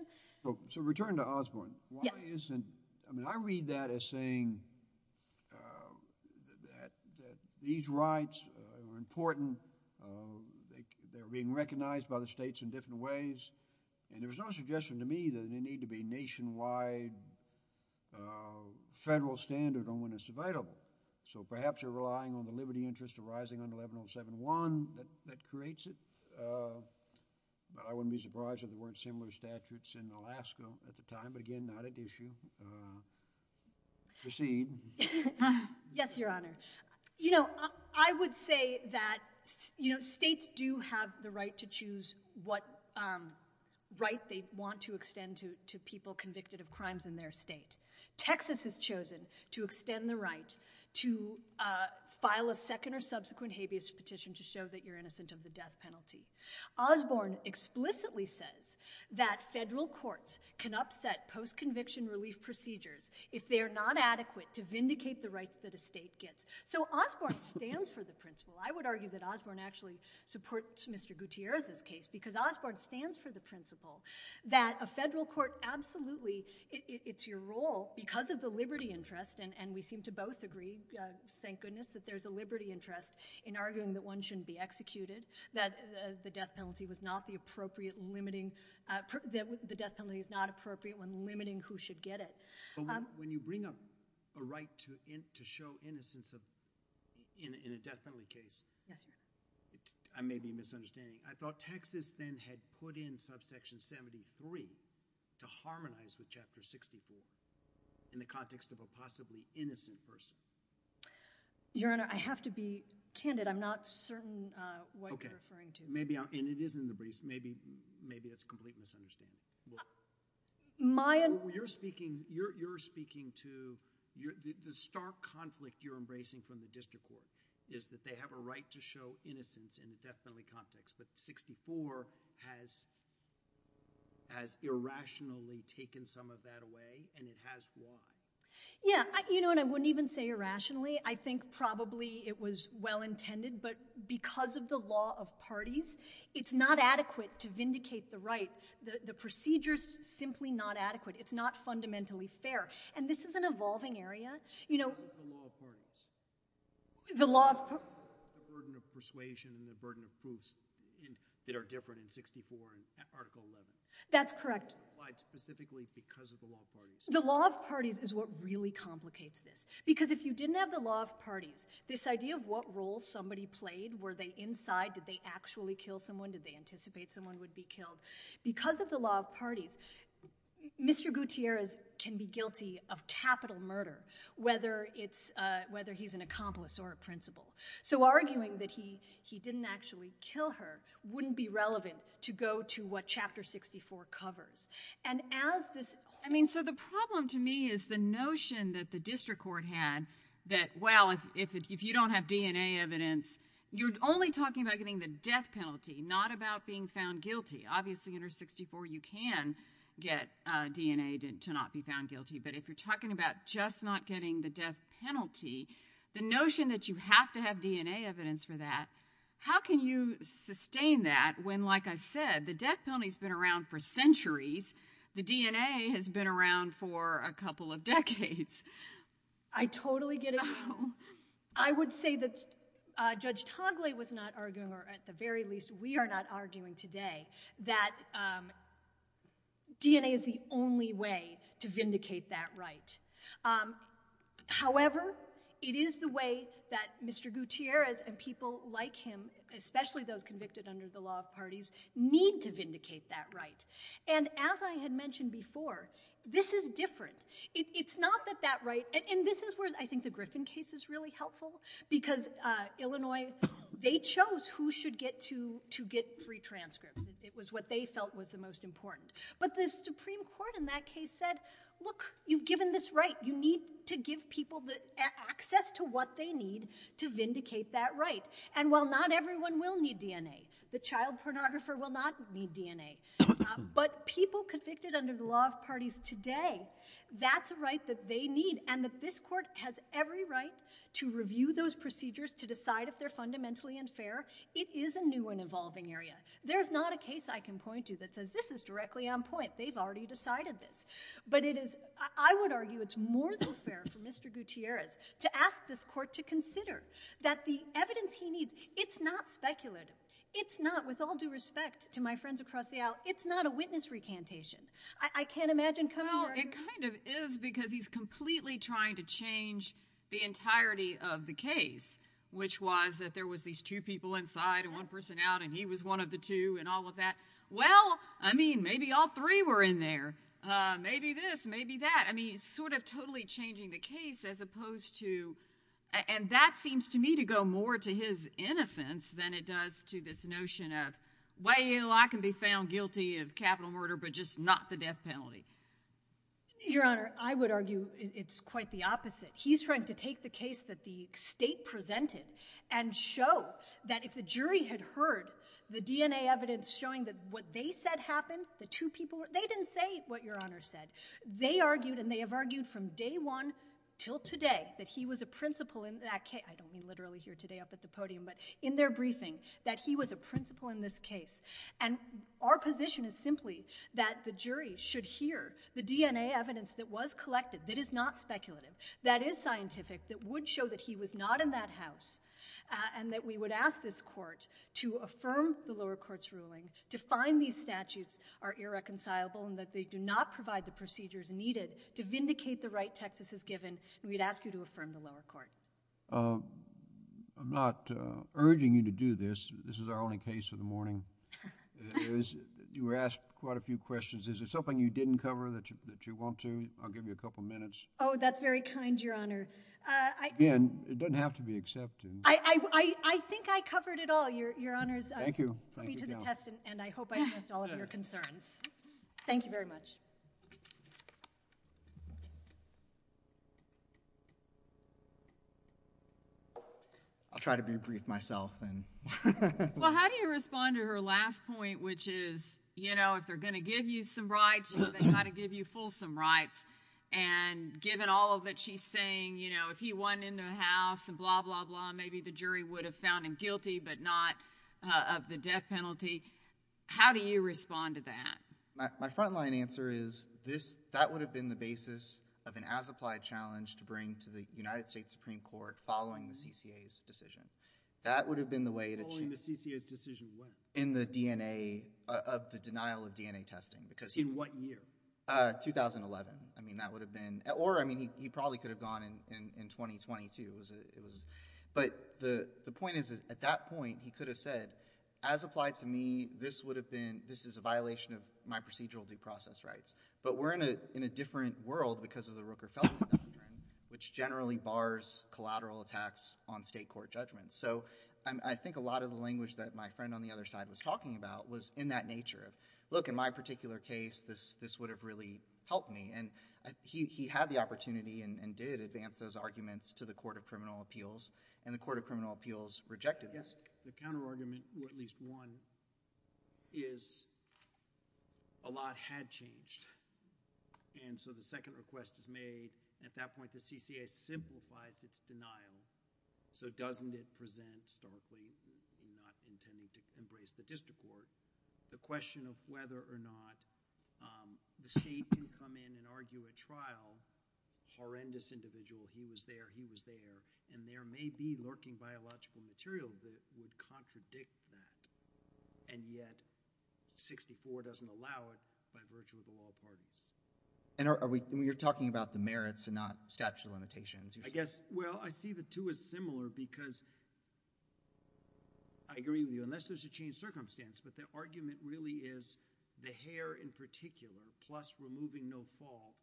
So returning to Osborne, why isn't, I mean, I read that as saying that these rights are important, they're being recognized by the states in different ways, and there was no suggestion to me that they need to be nationwide federal standard on when it's debatable. So perhaps you're relying on the liberty interest arising under 11071 that creates it. But I wouldn't be surprised if there weren't similar statutes in Alaska at the time, but again, not at issue. Proceed. Yes, Your Honor. You know, I would say that, you know, states do have the right to choose what right they want to extend to people convicted of crimes in their state. Texas has chosen to extend the right to file a second or subsequent habeas petition to show that you're innocent of the death penalty. Osborne explicitly says that federal courts can upset post-conviction relief procedures if they are not adequate to vindicate the rights that a state gets. So Osborne stands for the principle. I would argue that Osborne actually supports Mr. Gutierrez's case because Osborne stands for the principle that a federal court absolutely, it's your role, because of the liberty interest, and we seem to both agree, thank goodness, that there's a liberty interest in arguing that one shouldn't be executed, that the death penalty was not the appropriate, limiting, the death penalty is not appropriate when limiting who should get it. When you bring up a right to show innocence in a death penalty case, I may be misunderstanding. I thought Texas then had put in subsection 73 to harmonize with chapter 64 in the context of a possibly innocent person. Your Honor, I have to be candid. I'm not certain what you're referring to. Okay. And it is in the briefs. Maybe that's a complete misunderstanding. Well, you're speaking to, the stark conflict you're embracing from the district court is that they have a right to show innocence in the death penalty context, but 64 has, has irrationally taken some of that away, and it has won. Yeah, you know, and I wouldn't even say irrationally. I think probably it was well-intended, but because of the law of parties, it's not adequate to vindicate the right. The procedure's simply not adequate. It's not fundamentally fair, and this is an evolving area. You know... What about the law of parties? The law of... The burden of persuasion, the burden of proofs that are different in 64 and Article 11. That's correct. Why specifically because of the law of parties? The law of parties is what really complicates this, because if you didn't have the law of parties, this idea of what role somebody played, were they inside, did they actually kill someone, did they anticipate someone would be killed, because of the law of parties, Mr. Gutierrez can be guilty of capital murder, whether it's, whether he's an accomplice or a principal. So arguing that he didn't actually kill her wouldn't be relevant to go to what Chapter 64 covers. And as this... I mean, so the problem to me is the notion that the district court had that, well, if you don't have DNA evidence, you're only talking about getting the death penalty, not about being found guilty. Obviously, under 64, you can get DNA to not be found guilty, but if you're talking about just not getting the death penalty, the notion that you have to have DNA evidence for that, how can you sustain that when, like I said, the death penalty's been around for centuries, the DNA has been around for a couple of decades? I totally get it. I would say that Judge Togley was not arguing, or at the very least, we are not arguing today, that DNA is the only way to vindicate that right. However, it is the way that Mr. Gutierrez and people like him, especially those convicted under the law of parties, need to vindicate that right. And as I had mentioned before, this is different. It's not that that right... And this is where I think the Griffin case is really helpful, because Illinois, they chose who should get to get free transcripts. It was what they felt was the most important. But the Supreme Court in that case said, look, you've given this right. You need to give people access to what they need to vindicate that right. And while not everyone will need DNA, the child pornographer will not need DNA, but people convicted under the law of parties today, that's a right that they need, and that this court has every right to review those procedures to decide if they're fundamentally unfair. It is a new and evolving area. There's not a case I can point to that says, this is directly on point. They've already decided this. But I would argue it's more than fair for Mr Gutierrez to ask this court to consider that the evidence he needs, it's not speculated. It's not, with all due respect to my friends across the aisle, it's not a witness recantation. I can't imagine coming here... Well, it kind of is, because he's completely trying to change the entirety of the case, which was that there was these two people inside and one person out, and he was one of the two and all of that. Well, I mean, maybe all three were in there. Maybe this, maybe that. I mean, sort of totally changing the case as opposed to... And that seems to me to go more to his innocence than it does to this notion of, well, I can be found guilty of capital murder, but just not the death penalty. Your Honour, I would argue it's quite the opposite. He's trying to take the case that the state presented and show that if the jury had heard the DNA evidence showing that what they said happened, the two people... They didn't say what Your Honour said. They argued, and they have argued from day one till today, that he was a principal in that case. I don't mean literally here today up at the podium, but in their briefing, that he was a principal in this case. And our position is simply that the jury should hear the DNA evidence that was collected, that is not speculative, that is scientific, that would show that he was not in that house, and that we would ask this court to affirm the lower court's ruling to find these statutes are irreconcilable and that they do not provide the procedures needed to vindicate the right Texas has given, and we'd ask you to affirm the lower court. I'm not urging you to do this. This is our only case of the morning. You were asked quite a few questions. Is there something you didn't cover that you want to? I'll give you a couple of minutes. Oh, that's very kind, Your Honour. It doesn't have to be accepted. I think I covered it all, Your Honour. Thank you. I hope I missed all of your concerns. Thank you very much. I'll try to be brief myself. Well, how do you respond to her last point, which is, you know, if they're going to give you some rights, they've got to give you fulsome rights. And given all that she's saying, you know, if he won in the House and blah, blah, blah, maybe the jury would have found him guilty but not of the death penalty, how do you respond to that? My front-line answer is that would have been the basis of an as-applied challenge to bring to the United States Supreme Court following the CCA's decision. That would have been the way to change... Following the CCA's decision when? In the DNA, of the denial of DNA testing. In what year? 2011. I mean, that would have been... Or, I mean, he probably could have gone in 2022. But the point is, at that point, he could have said, as applied to me, this would have been... This is a violation of my procedural due process rights. But we're in a different world because of the Rooker-Felton doctrine, which generally bars collateral attacks on state court judgments. So I think a lot of the language that my friend on the other side was talking about was in that nature of, look, in my particular case, this would have really helped me. And he had the opportunity and did advance those arguments to the Court of Criminal Appeals, and the Court of Criminal Appeals rejected this. The counterargument, or at least one, is a lot had changed. And so the second request is made. At that point, the CCA simplifies its denial. So doesn't it present starkly not intending to embrace the district court? The question of whether or not the state can come in and argue a trial, horrendous individual, he was there, he was there, and there may be lurking biological material that would contradict that, and yet 64 doesn't allow it by virtue of the law of pardons. And you're talking about the merits and not statute of limitations? Well, I see the two as similar because I agree with you, unless there's a changed circumstance, but the argument really is the hair in particular, plus removing no fault,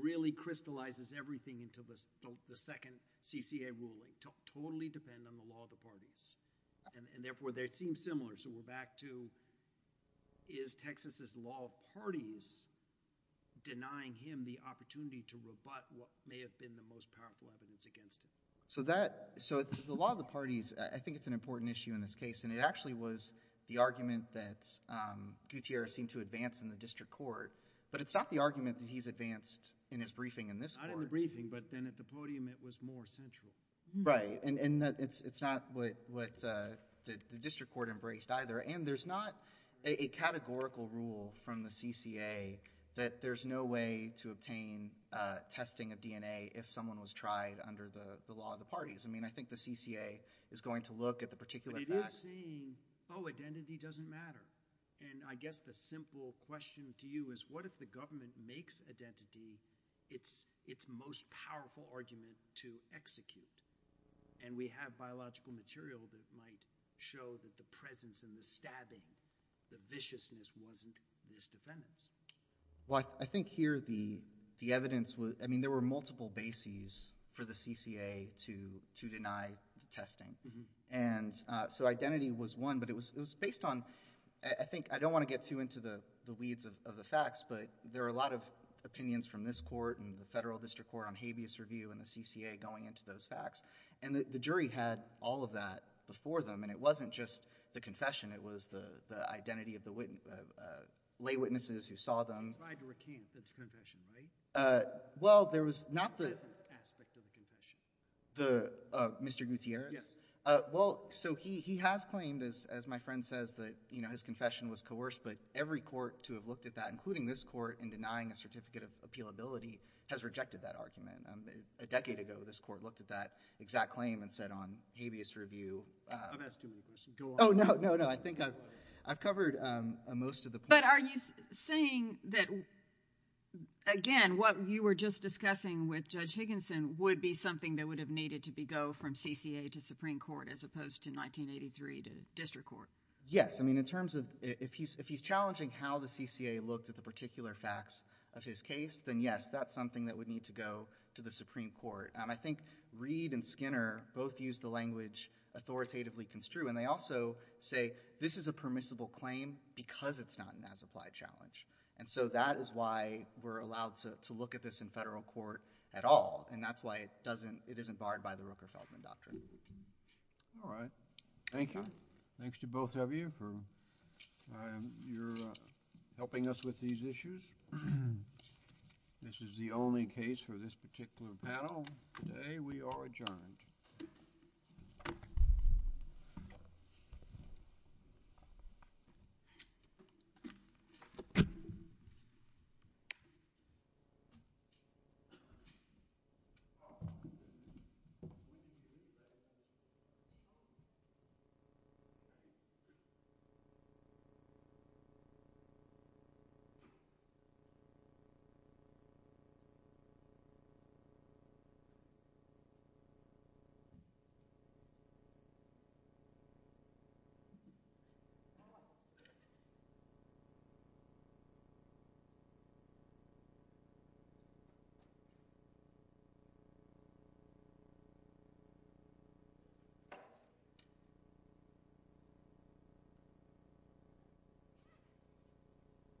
really crystallizes everything into the second CCA ruling. Totally depend on the law of the parties. And therefore, they seem similar. So we're back to, is Texas's law of parties denying him the opportunity to rebut what may have been the most powerful evidence against him? So the law of the parties, I think it's an important issue in this case, and it actually was the argument that Gutierrez seemed to advance in the district court, but it's not the argument that he's advanced in his briefing in this court. Not in the briefing, but then at the podium, it was more central. Right, and it's not what the district court embraced either, and there's not a categorical rule from the CCA that there's no way to obtain testing of DNA if someone was tried under the law of the parties. I mean, I think the CCA is going to look at the particular facts. But it is saying, oh, identity doesn't matter. And I guess the simple question to you is, what if the government makes identity its most powerful argument to execute? And we have biological material that might show that the presence and the stabbing, the viciousness wasn't misdefendants. Well, I think here the evidence was, I mean, there were multiple bases for the CCA to deny testing. And so identity was one, but it was based on, I think, I don't want to get too into the weeds of the facts, but there are a lot of opinions from this court and the federal district court on habeas review and the CCA going into those facts. And the jury had all of that before them, and it wasn't just the confession. It was the identity of the lay witnesses who saw them. It's hard to recuse the confession, right? Well, there was not the- The presence aspect of the confession. Mr. Gutierrez? Yes. Well, so he has claimed, as my friend says, that his confession was coerced. But every court to have looked at that, including this court, in denying a certificate of appealability has rejected that argument. A decade ago, this court looked at that exact claim and said on habeas review- I've asked you a question. Go on. Oh, no, no, no. I think I've covered most of the point. But are you saying that, again, what you were just discussing with Judge Higginson would be something that would have needed to be- go from CCA to Supreme Court as opposed to 1983 to district court? Yes. I mean, in terms of- if he's challenging how the CCA looked at the particular facts of his case, then yes, that's something that would need to go to the Supreme Court. And I think Reed and Skinner both used the language authoritatively construed, and they also say this is a permissible claim because it's not an as-applied challenge. And so that is why we're allowed to look at this in federal court at all. And that's why it doesn't- it isn't barred by the Rooker-Feldman Doctrine. All right. Thank you. Thanks to both of you for your helping us with these issues. This is the only case for this particular panel. Today we are adjourned. Thank you. Thank you.